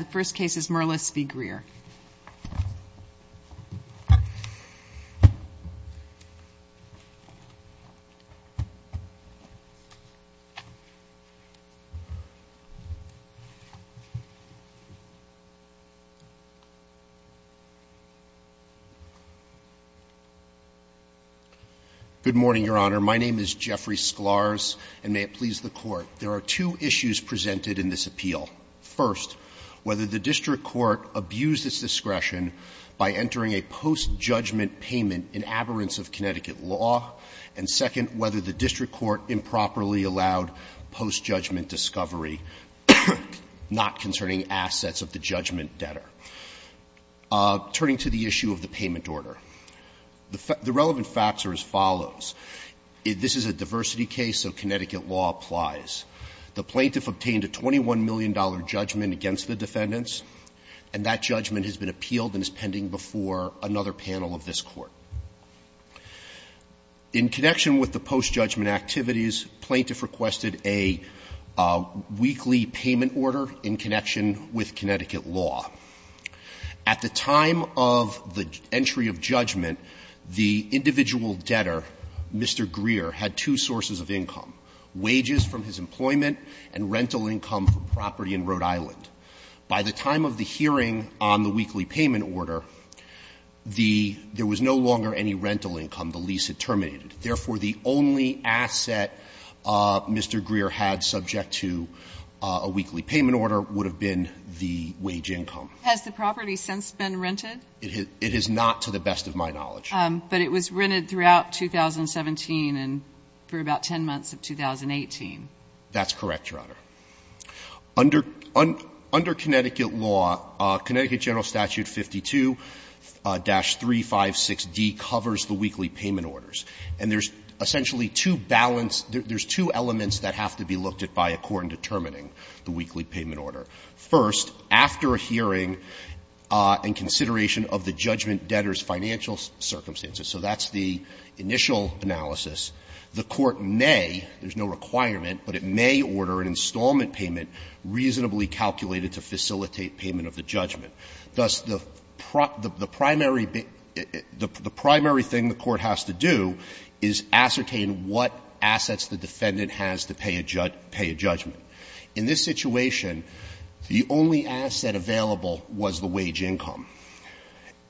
Good morning, Your Honor. My name is Jeffrey Sklarz, and may it please the Court, there are two issues presented in this appeal. First, whether the district court abused its discretion by entering a post-judgment payment in aberrance of Connecticut law, and second, whether the district court improperly allowed post-judgment discovery not concerning assets of the judgment debtor. Turning to the issue of the payment order, the relevant facts are as follows. This is a diversity case, so Connecticut law applies. The plaintiff obtained a $21 million judgment against the defendants, and that judgment has been appealed and is pending before another panel of this Court. In connection with the post-judgment activities, plaintiff requested a weekly payment order in connection with Connecticut law. At the time of the entry of judgment, the individual debtor Mr. Greer had two sources of income, wages from his employment and rental income from property in Rhode Island. By the time of the hearing on the weekly payment order, the — there was no longer any rental income. The lease had terminated. Therefore, the only asset Mr. Greer had subject to a weekly payment order would have been the wage income. Has the property since been rented? It has not, to the best of my knowledge. But it was rented throughout 2017 and for about 10 months of 2018. That's correct, Your Honor. Under — under Connecticut law, Connecticut General Statute 52-356d covers the weekly payment orders. And there's essentially two balanced — there's two elements that have to be looked at by a court in determining the weekly payment order. First, after a hearing and consideration of the judgment and the debtor's financial circumstances, so that's the initial analysis, the court may — there's no requirement, but it may order an installment payment reasonably calculated to facilitate payment of the judgment. Thus, the primary — the primary thing the court has to do is ascertain what assets the defendant has to pay a — pay a judgment. In this situation, the only asset available was the wage income.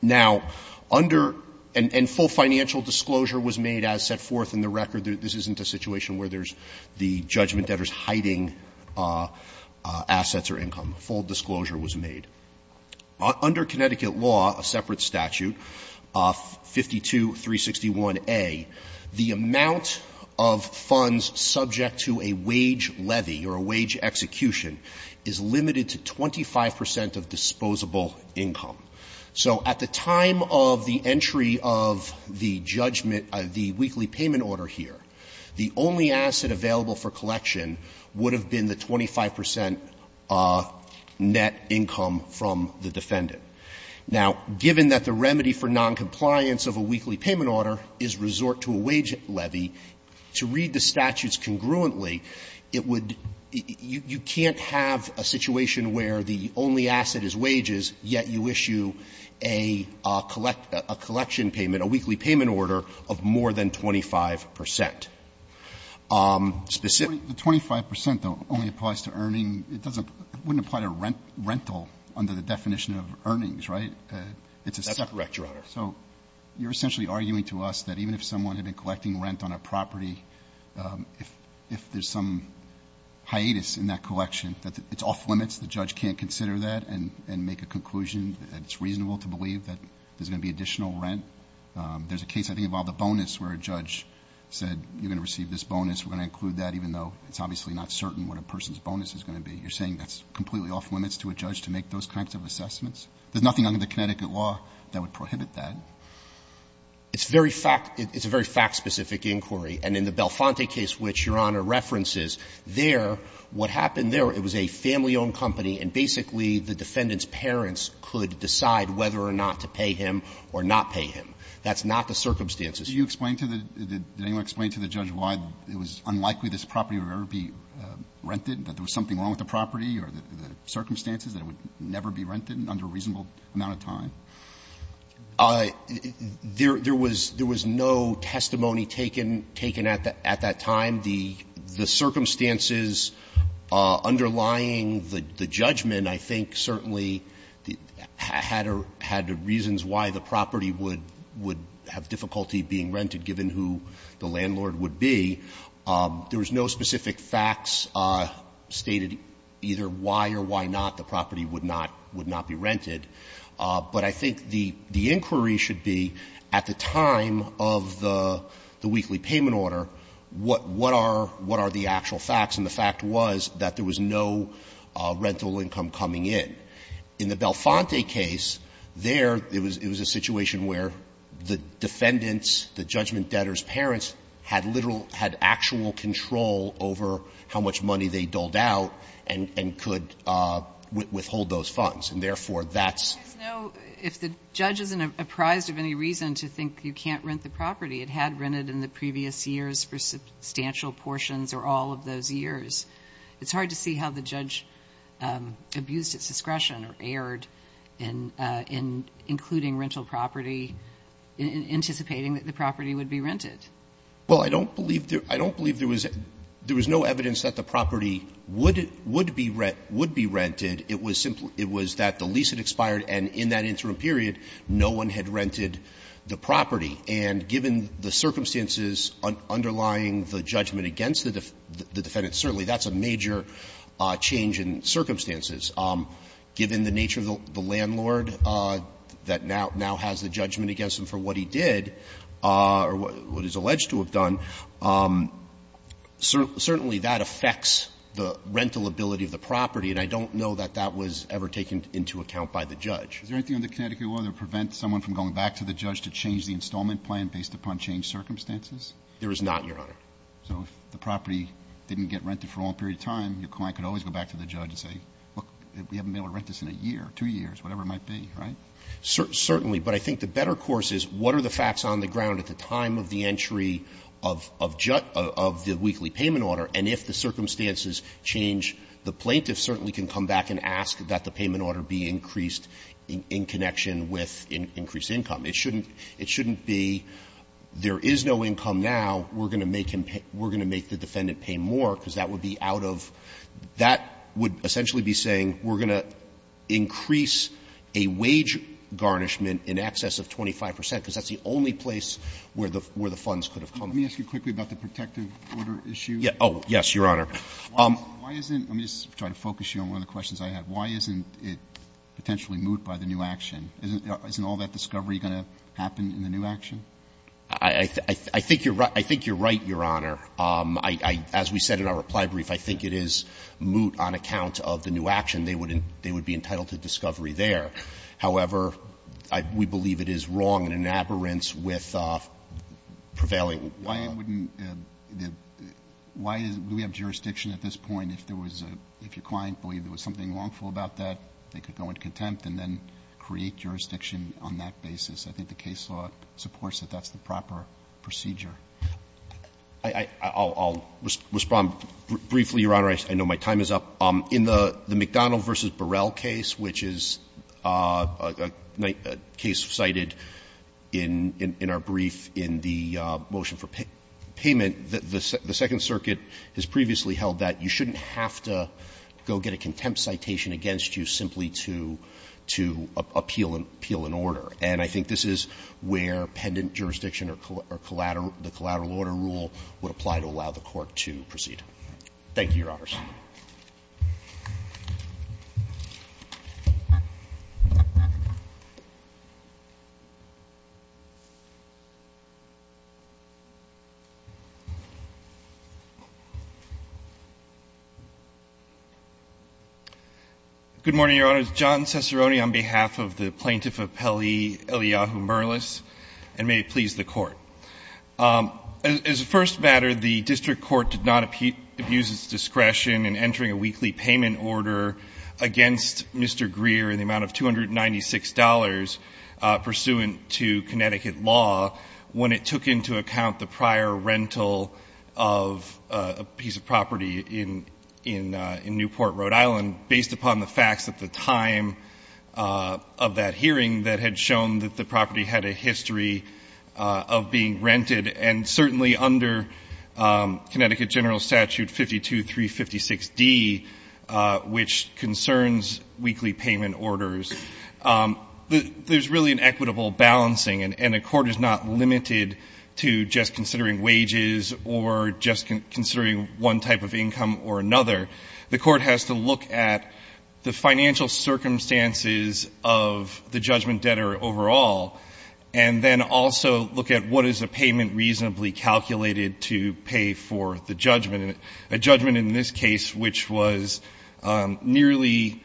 Now, under — and full financial disclosure was made as set forth in the record. This isn't a situation where there's the judgment debtor's hiding assets or income. Full disclosure was made. Under Connecticut law, a separate statute, 52-361a, the amount of funds subject to a wage levy or a wage execution is limited to 25 percent of disposable income. So at the time of the entry of the judgment, the weekly payment order here, the only asset available for collection would have been the 25 percent net income from the defendant. Now, given that the remedy for noncompliance of a weekly payment order is resort to a wage levy, to read the statutes congruently, it would — you can't have a situation where the only asset is wages, yet you issue a collection payment, a weekly payment order, of more than 25 percent. Specifically — Roberts. The 25 percent, though, only applies to earning — it doesn't — it wouldn't apply to rental under the definition of earnings, right? It's a separate — That's correct, Your Honor. So you're essentially arguing to us that even if someone had been collecting rent on a property, if there's some hiatus in that collection, that it's off-limits, the judge can't consider that and make a conclusion that it's reasonable to believe that there's going to be additional rent. There's a case, I think, about the bonus where a judge said, you're going to receive this bonus, we're going to include that, even though it's obviously not certain what a person's bonus is going to be. You're saying that's completely off-limits to a judge to make those kinds of assessments? There's nothing under the Connecticut law that would prohibit that. It's very fact — it's a very fact-specific inquiry. And in the Belfonte case, which Your Honor references, there, what happened there, it was a family-owned company, and basically the defendant's parents could decide whether or not to pay him or not pay him. That's not the circumstances. Do you explain to the — did anyone explain to the judge why it was unlikely this property would ever be rented, that there was something wrong with the property or the circumstances that it would never be rented under a reasonable amount of time? There was no testimony taken at that time. The circumstances underlying the judgment, I think, certainly had reasons why the property would have difficulty being rented, given who the landlord would be. There was no specific facts stated either why or why not the property would not be rented. But I think the inquiry should be, at the time of the weekly payment order, what are the actual facts? And the fact was that there was no rental income coming in. In the Belfonte case, there, it was a situation where the defendants, the judgment debtor's parents, had literal — had actual control over how much money they doled out and could withhold those funds. And therefore, that's — There's no — if the judge isn't apprised of any reason to think you can't rent the property, it had rented in the previous years for substantial portions or all of those years, it's hard to see how the judge abused its discretion or erred in including rental property in anticipating that the property would be rented. Well, I don't believe there was — there was no evidence that the property would be rent — would be rented. It was simply — it was that the lease had expired and in that interim period no one had rented the property. And given the circumstances underlying the judgment against the defendants, certainly that's a major change in circumstances. Given the nature of the landlord that now has the judgment against him for what he did or what he's alleged to have done, certainly that affects the rental ability of the property, and I don't know that that was ever taken into account by the judge. Is there anything in the Connecticut law that prevents someone from going back to the judge to change the installment plan based upon changed circumstances? There is not, Your Honor. So if the property didn't get rented for a long period of time, your client could always go back to the judge and say, look, we haven't been able to rent this in a year, two years, whatever it might be, right? Certainly. But I think the better course is what are the facts on the ground at the time of the entry of the weekly payment order, and if the circumstances change, the plaintiff certainly can come back and ask that the payment order be increased in connection with increased income. It shouldn't be there is no income now, we're going to make him pay — we're going to make the defendant pay more because that would be out of — that would essentially be saying we're going to increase a wage garnishment in excess of 25 percent because that's the only place where the — where the funds could have come from. Let me ask you quickly about the protective order issue. Yeah. Oh, yes, Your Honor. Why isn't — let me just try to focus you on one of the questions I had. Why isn't it potentially moot by the new action? Isn't all that discovery going to happen in the new action? I think you're — I think you're right, Your Honor. I — as we said in our reply brief, I think it is moot on account of the new action. They would be entitled to discovery there. However, we believe it is wrong in an aberrance with prevailing law. Why wouldn't — why is — do we have jurisdiction at this point if there was a — if your client believed there was something wrongful about that, they could go into contempt and then create jurisdiction on that basis? I think the case law supports that that's the proper procedure. I'll respond briefly, Your Honor. I know my time is up. In the McDonald v. Burrell case, which is a case cited in our brief in the motion for payment, the Second Circuit has previously held that you shouldn't have to go get a contempt citation against you simply to appeal an order. And I think this is where pendant jurisdiction or collateral — the collateral order rule would apply to allow the Court to proceed. Thank you very much. Good morning, Your Honors. John Ciceroni on behalf of the Plaintiff Appellee Eliyahu Merlis, and may it please the Court. As a first matter, the district court did not abuse its discretion in entering a weekly payment order against Mr. Greer in the amount of $296 pursuant to Connecticut law when it took into account the prior rental of a piece of property in — in Newport, Rhode Island, based upon the facts at the time of that hearing that had shown that the property had a history of being rented. And certainly under Connecticut General Statute 52356D, which concerns weekly payment orders, there's really an equitable balancing. And a court is not limited to just considering wages or just considering one type of income or another. The Court has to look at the financial circumstances of the judgment debtor overall and then also look at what is a payment reasonably calculated to pay for the judgment. A judgment in this case, which was nearly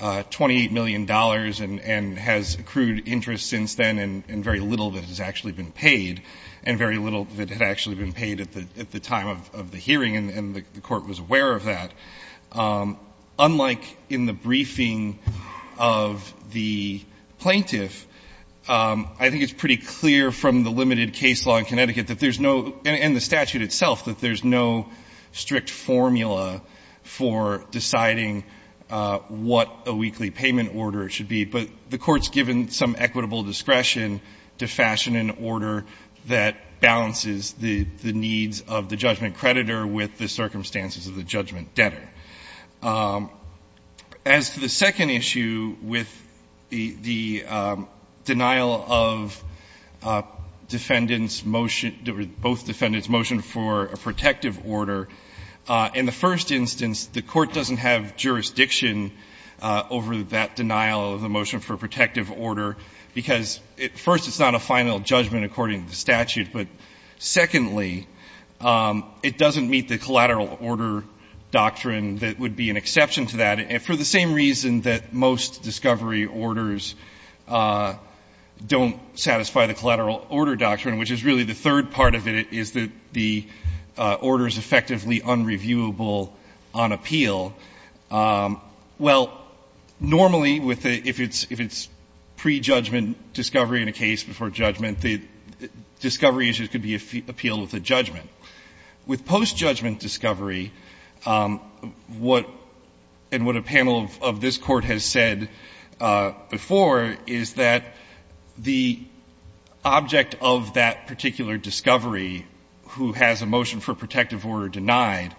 $28 million and — and has accrued interest since then and very little that has actually been paid, and very little that had actually been paid at the — at the time of — of the hearing, and the Court was aware of that, unlike in the briefing of the plaintiff, I think it's pretty clear from the limited case law in Connecticut that there's no — and the statute itself, that there's no strict formula for deciding what a weekly payment order should be. But the Court's given some equitable discretion to fashion an order that balances the — the needs of the judgment creditor with the circumstances of the judgment debtor. As to the second issue with the — the denial of defendants' motion — both defendants' motion for a protective order, in the first instance, the Court doesn't have jurisdiction over that denial of the motion for a protective order because, at first, it's not a final judgment. Secondly, it doesn't meet the collateral order doctrine that would be an exception to that, for the same reason that most discovery orders don't satisfy the collateral order doctrine, which is really the third part of it, is that the order is effectively unreviewable on appeal. Well, normally, with the — if it's — if it's pre-judgment discovery in a case before judgment, the discovery issues could be appealed with a judgment. With post-judgment discovery, what — and what a panel of this Court has said before is that the object of that particular discovery who has a motion for a protective order denied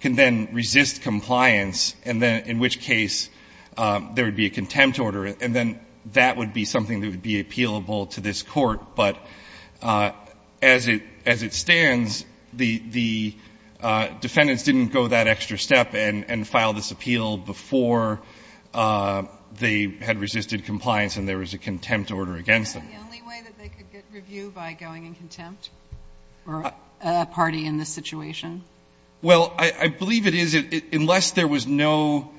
can then resist compliance, and then — in which case there would be a contempt order, and then that would be something that would be appealable to this Court. But as it — as it stands, the — the defendants didn't go that extra step and — and file this appeal before they had resisted compliance and there was a contempt order against them. Is that the only way that they could get review, by going in contempt, for a party in this situation? Well, I — I believe it is, unless there was no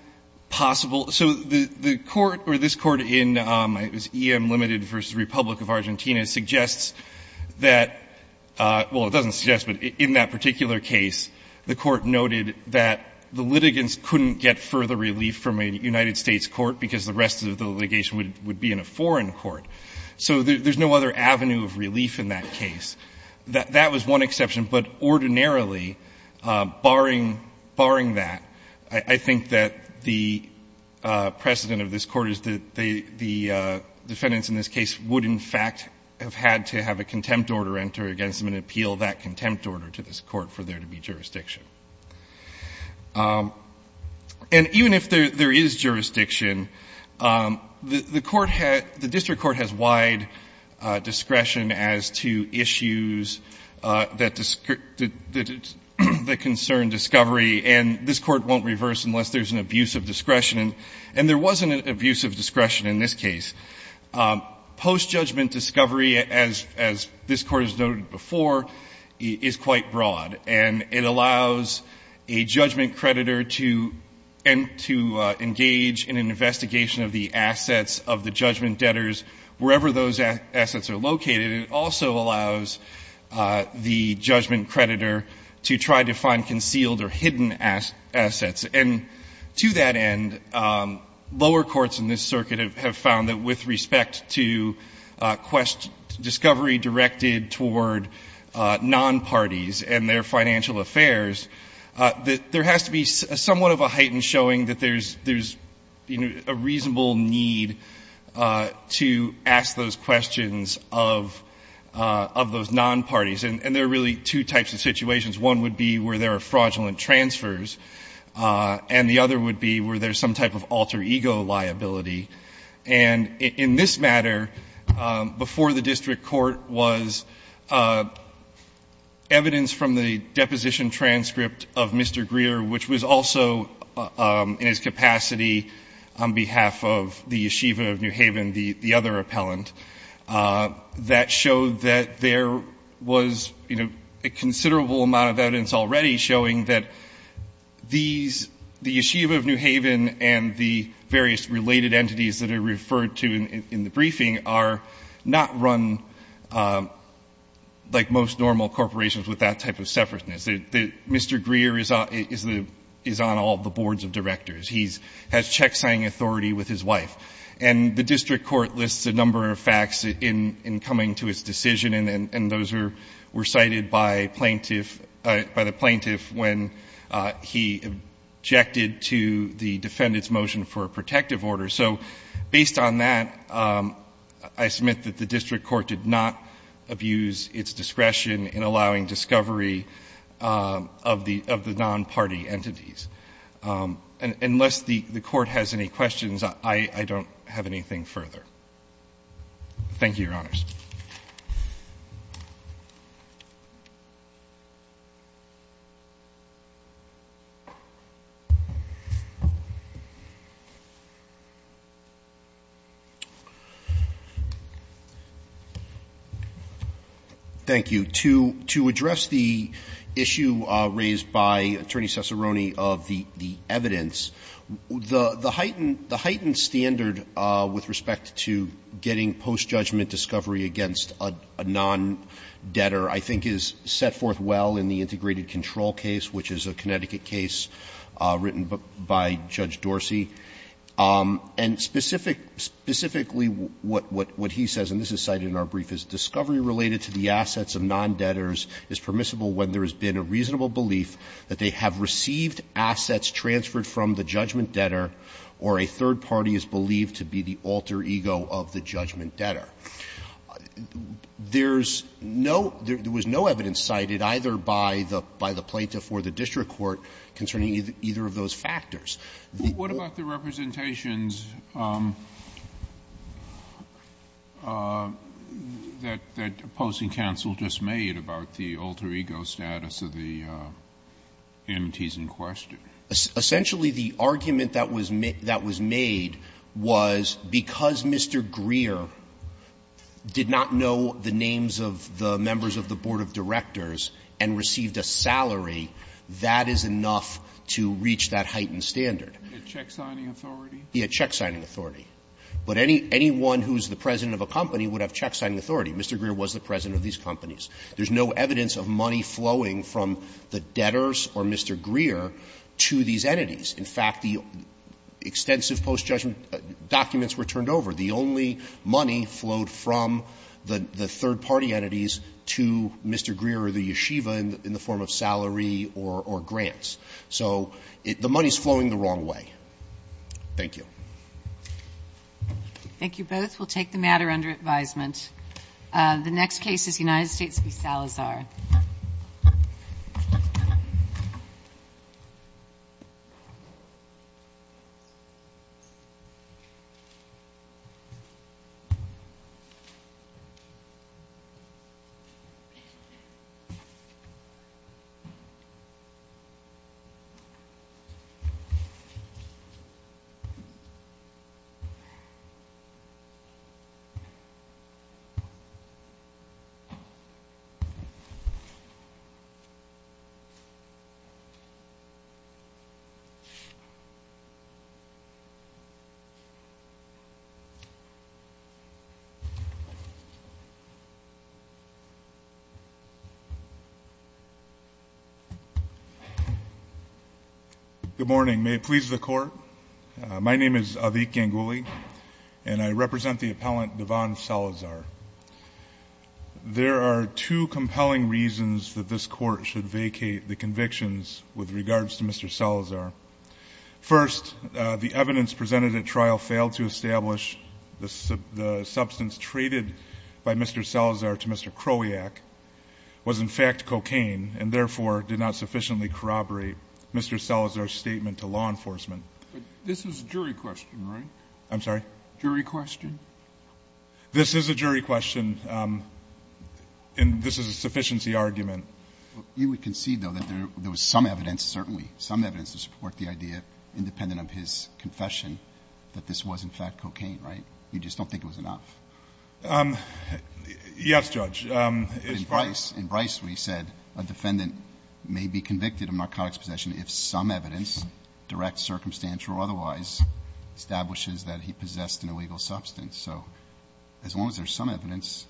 possible — so the — the court or this court in — it was EM Limited v. Republic of Argentina, suggests that — well, it doesn't suggest, but in that particular case, the court noted that the litigants couldn't get further relief from a United States court because the rest of the litigation would — would be in a foreign court. So there's no other avenue of relief in that case. That — that was one exception. But ordinarily, barring — barring that, I — I think that the precedent of this Court is that the — the defendants in this case would, in fact, have had to have a contempt order enter against them and appeal that contempt order to this Court for there to be jurisdiction. And even if there — there is jurisdiction, the — the court had — the district court has wide discretion as to issues that — that concern discovery. And this court won't reverse unless there's an abuse of discretion. And there was an abuse of discretion in this case. Post-judgment discovery, as — as this Court has noted before, is quite broad. And it allows a judgment creditor to — and to engage in an investigation of the assets of the judgment debtors wherever those assets are located. It also allows the judgment creditor to try to find concealed or hidden assets. And to that end, lower courts in this circuit have found that with respect to discovery directed toward non-parties and their financial affairs, that there has to be somewhat of a height in showing that there's — there's, you know, a reasonable need to ask those questions of — of those non-parties. And there are really two types of situations. One would be where there are fraudulent transfers. And the other would be where there's some type of alter ego liability. And in this matter, before the district court was evidence from the deposition transcript of Mr. Greer, which was also in his capacity on behalf of the yeshiva of New Haven, the other appellant, that showed that there was, you know, a considerable amount of evidence already showing that these — the yeshiva of New Haven and the various related entities that are referred to in the briefing are not run like most normal corporations with that type of separateness. Mr. Greer is on all the boards of directors. He has checksigning authority with his wife. And the district court lists a number of facts in coming to his decision, and those were cited by plaintiff — by the plaintiff when he objected to the defendant's motion for a protective order. So based on that, I submit that the district court did not abuse its discretion in allowing discovery of the non-party entities. Unless the court has any questions, I don't have anything further. Thank you, Your Honors. Thank you. To address the issue raised by Attorney Cessarone of the evidence, the heightened standard with respect to getting post-judgment discovery against a non-debtor I think is set forth well in the integrated control case, which is a Connecticut case written by Judge Dorsey. And specific — specifically what he says, and this is cited in our brief, is, Discovery related to the assets of non-debtors is permissible when there has been a reasonable belief that they have received assets transferred from the judgment debtor or a third party is believed to be the alter ego of the judgment debtor. There's no — there was no evidence cited either by the — by the plaintiff or the district court concerning either of those factors. The — What about the representations that opposing counsel just made about the alter ego status of the entities in question? Essentially, the argument that was made was because Mr. Greer did not know the names of the members of the board of directors and received a salary, that is enough to reach that heightened standard. The check-signing authority? He had check-signing authority. But any — anyone who is the president of a company would have check-signing authority. Mr. Greer was the president of these companies. There's no evidence of money flowing from the debtors or Mr. Greer to these entities. In fact, the extensive post-judgment documents were turned over. The only money flowed from the third-party entities to Mr. Greer or the yeshiva in the form of salary or grants. So the money is flowing the wrong way. Thank you. Thank you both. We'll take the matter under advisement. The next case is United States v. Salazar. Good morning. May it please the Court, my name is Avik Ganguly, and I represent the There are two compelling reasons that this Court should vacate the convictions with regards to Mr. Salazar. First, the evidence presented at trial failed to establish the substance traded by Mr. Salazar to Mr. Kroyak was in fact cocaine and therefore did not sufficiently corroborate Mr. Salazar's statement to law enforcement. This is a jury question, right? I'm sorry? Jury question? This is a jury question, and this is a sufficiency argument. You would concede, though, that there was some evidence, certainly, some evidence to support the idea, independent of his confession, that this was in fact cocaine, right? You just don't think it was enough. Yes, Judge. In Bryce, we said a defendant may be convicted of narcotics possession if some evidence, direct, circumstantial or otherwise, establishes that he possessed an illegal substance. So as long as there's some evidence,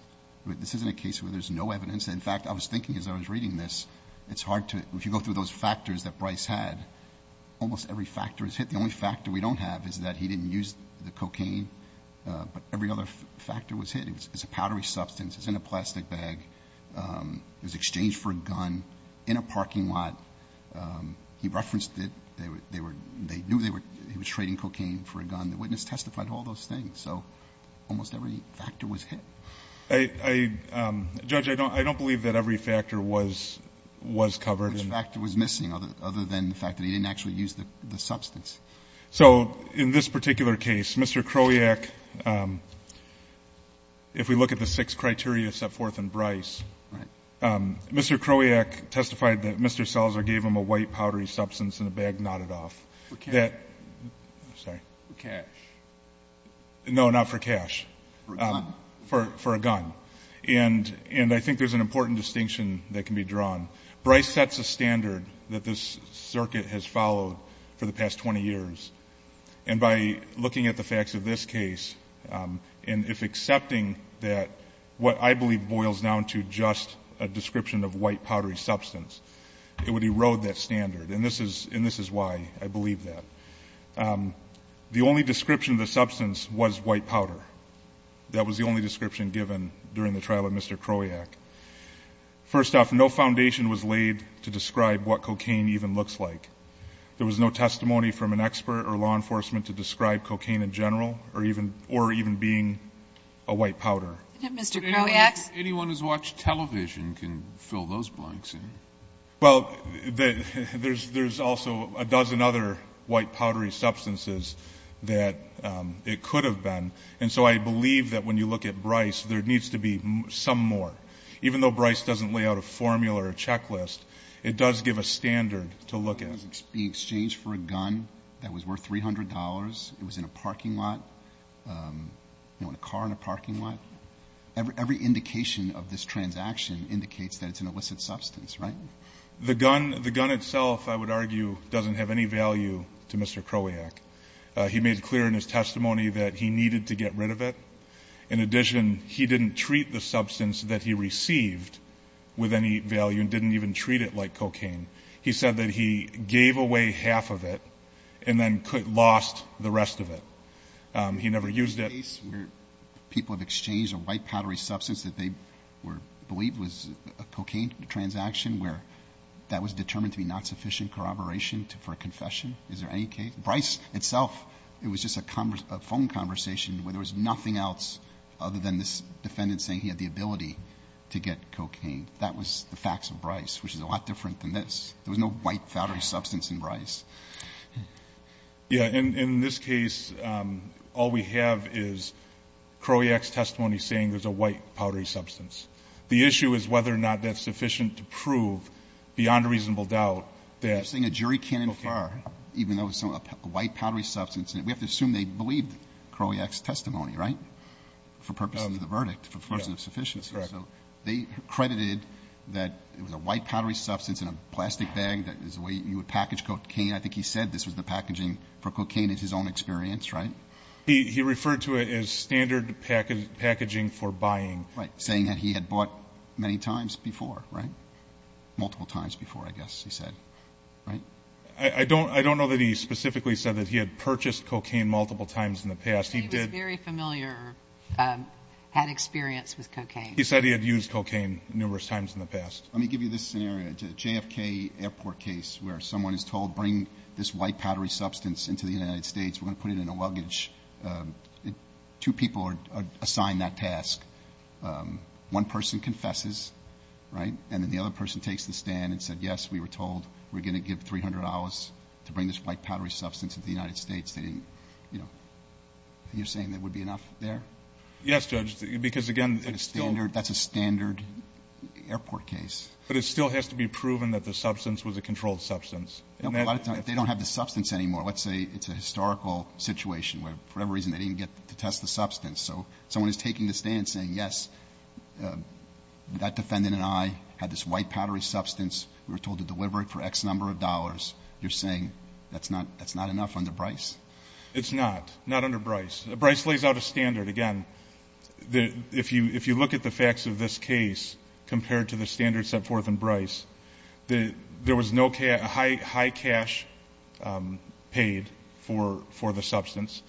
this isn't a case where there's no evidence. In fact, I was thinking as I was reading this, it's hard to, if you go through those factors that Bryce had, almost every factor is hit. The only factor we don't have is that he didn't use the cocaine, but every other factor was hit. It's a powdery substance. It's in a plastic bag. It was exchanged for a gun in a parking lot. He referenced that they knew he was trading cocaine for a gun. The witness testified to all those things. So almost every factor was hit. I, Judge, I don't believe that every factor was covered. Which factor was missing, other than the fact that he didn't actually use the substance? So in this particular case, Mr. Kroyak, if we look at the six criteria set forth in Bryce, Mr. Kroyak testified that Mr. Selzer gave him a white powdery substance in a bag knotted off. That, sorry. For cash. No, not for cash. For a gun. For a gun. And I think there's an important distinction that can be drawn. Bryce sets a standard that this circuit has followed for the past 20 years. And by looking at the facts of this case, and if accepting that what I believe boils down to just a description of white powdery substance, it would erode that standard. And this is why I believe that. The only description of the substance was white powder. That was the only description given during the trial of Mr. Kroyak. First off, no foundation was laid to describe what cocaine even looks like. There was no testimony from an expert or law enforcement to describe cocaine in general, or even being a white powder. But anyone who's watched television can fill those blanks in. Well, there's also a dozen other white powdery substances that it could have been. And so I believe that when you look at Bryce, there needs to be some more. Even though Bryce doesn't lay out a formula or a checklist, it does give a standard to look at. The exchange for a gun that was worth $300, it was in a parking lot, in a car in a parking lot. Every indication of this transaction indicates that it's an illicit substance, right? The gun itself, I would argue, doesn't have any value to Mr. Kroyak. He made clear in his testimony that he needed to get rid of it. In addition, he didn't treat the substance that he received with any value and didn't even treat it like cocaine. He said that he gave away half of it and then lost the rest of it. He never used it. Is there any case where people have exchanged a white powdery substance that they were believed was a cocaine transaction where that was determined to be not sufficient corroboration for a confession? Is there any case? Bryce itself, it was just a phone conversation where there was nothing else other than this defendant saying he had the ability to get cocaine. That was the facts of Bryce, which is a lot different than this. There was no white powdery substance in Bryce. Yeah. In this case, all we have is Kroyak's testimony saying there's a white powdery substance. The issue is whether or not that's sufficient to prove, beyond a reasonable doubt, that- You're saying a jury can't infer, even though it's a white powdery substance. We have to assume they believed Kroyak's testimony, right? For purposes of the verdict, for purposes of sufficiency. Correct. So they credited that it was a white powdery substance in a plastic bag that is the package cocaine. I think he said this was the packaging for cocaine is his own experience, right? He referred to it as standard packaging for buying. Right, saying that he had bought many times before, right? Multiple times before, I guess he said, right? I don't know that he specifically said that he had purchased cocaine multiple times in the past. He did- He was very familiar, had experience with cocaine. He said he had used cocaine numerous times in the past. Let me give you this scenario, JFK Airport case, where someone is told, bring this white powdery substance into the United States, we're going to put it in a luggage. Two people are assigned that task. One person confesses, right? And then the other person takes the stand and said, yes, we were told we're going to give $300 to bring this white powdery substance into the United States. They didn't, you know. You're saying there would be enough there? Yes, Judge, because, again, it's still- But it still has to be proven that the substance was a controlled substance. A lot of times, if they don't have the substance anymore, let's say it's a historical situation where, for whatever reason, they didn't get to test the substance. So someone is taking the stand saying, yes, that defendant and I had this white powdery substance, we were told to deliver it for X number of dollars. You're saying that's not enough under Bryce? It's not, not under Bryce. Bryce lays out a standard. Again, if you look at the facts of this case compared to the standards set forth in Bryce, there was no high cash paid for the substance.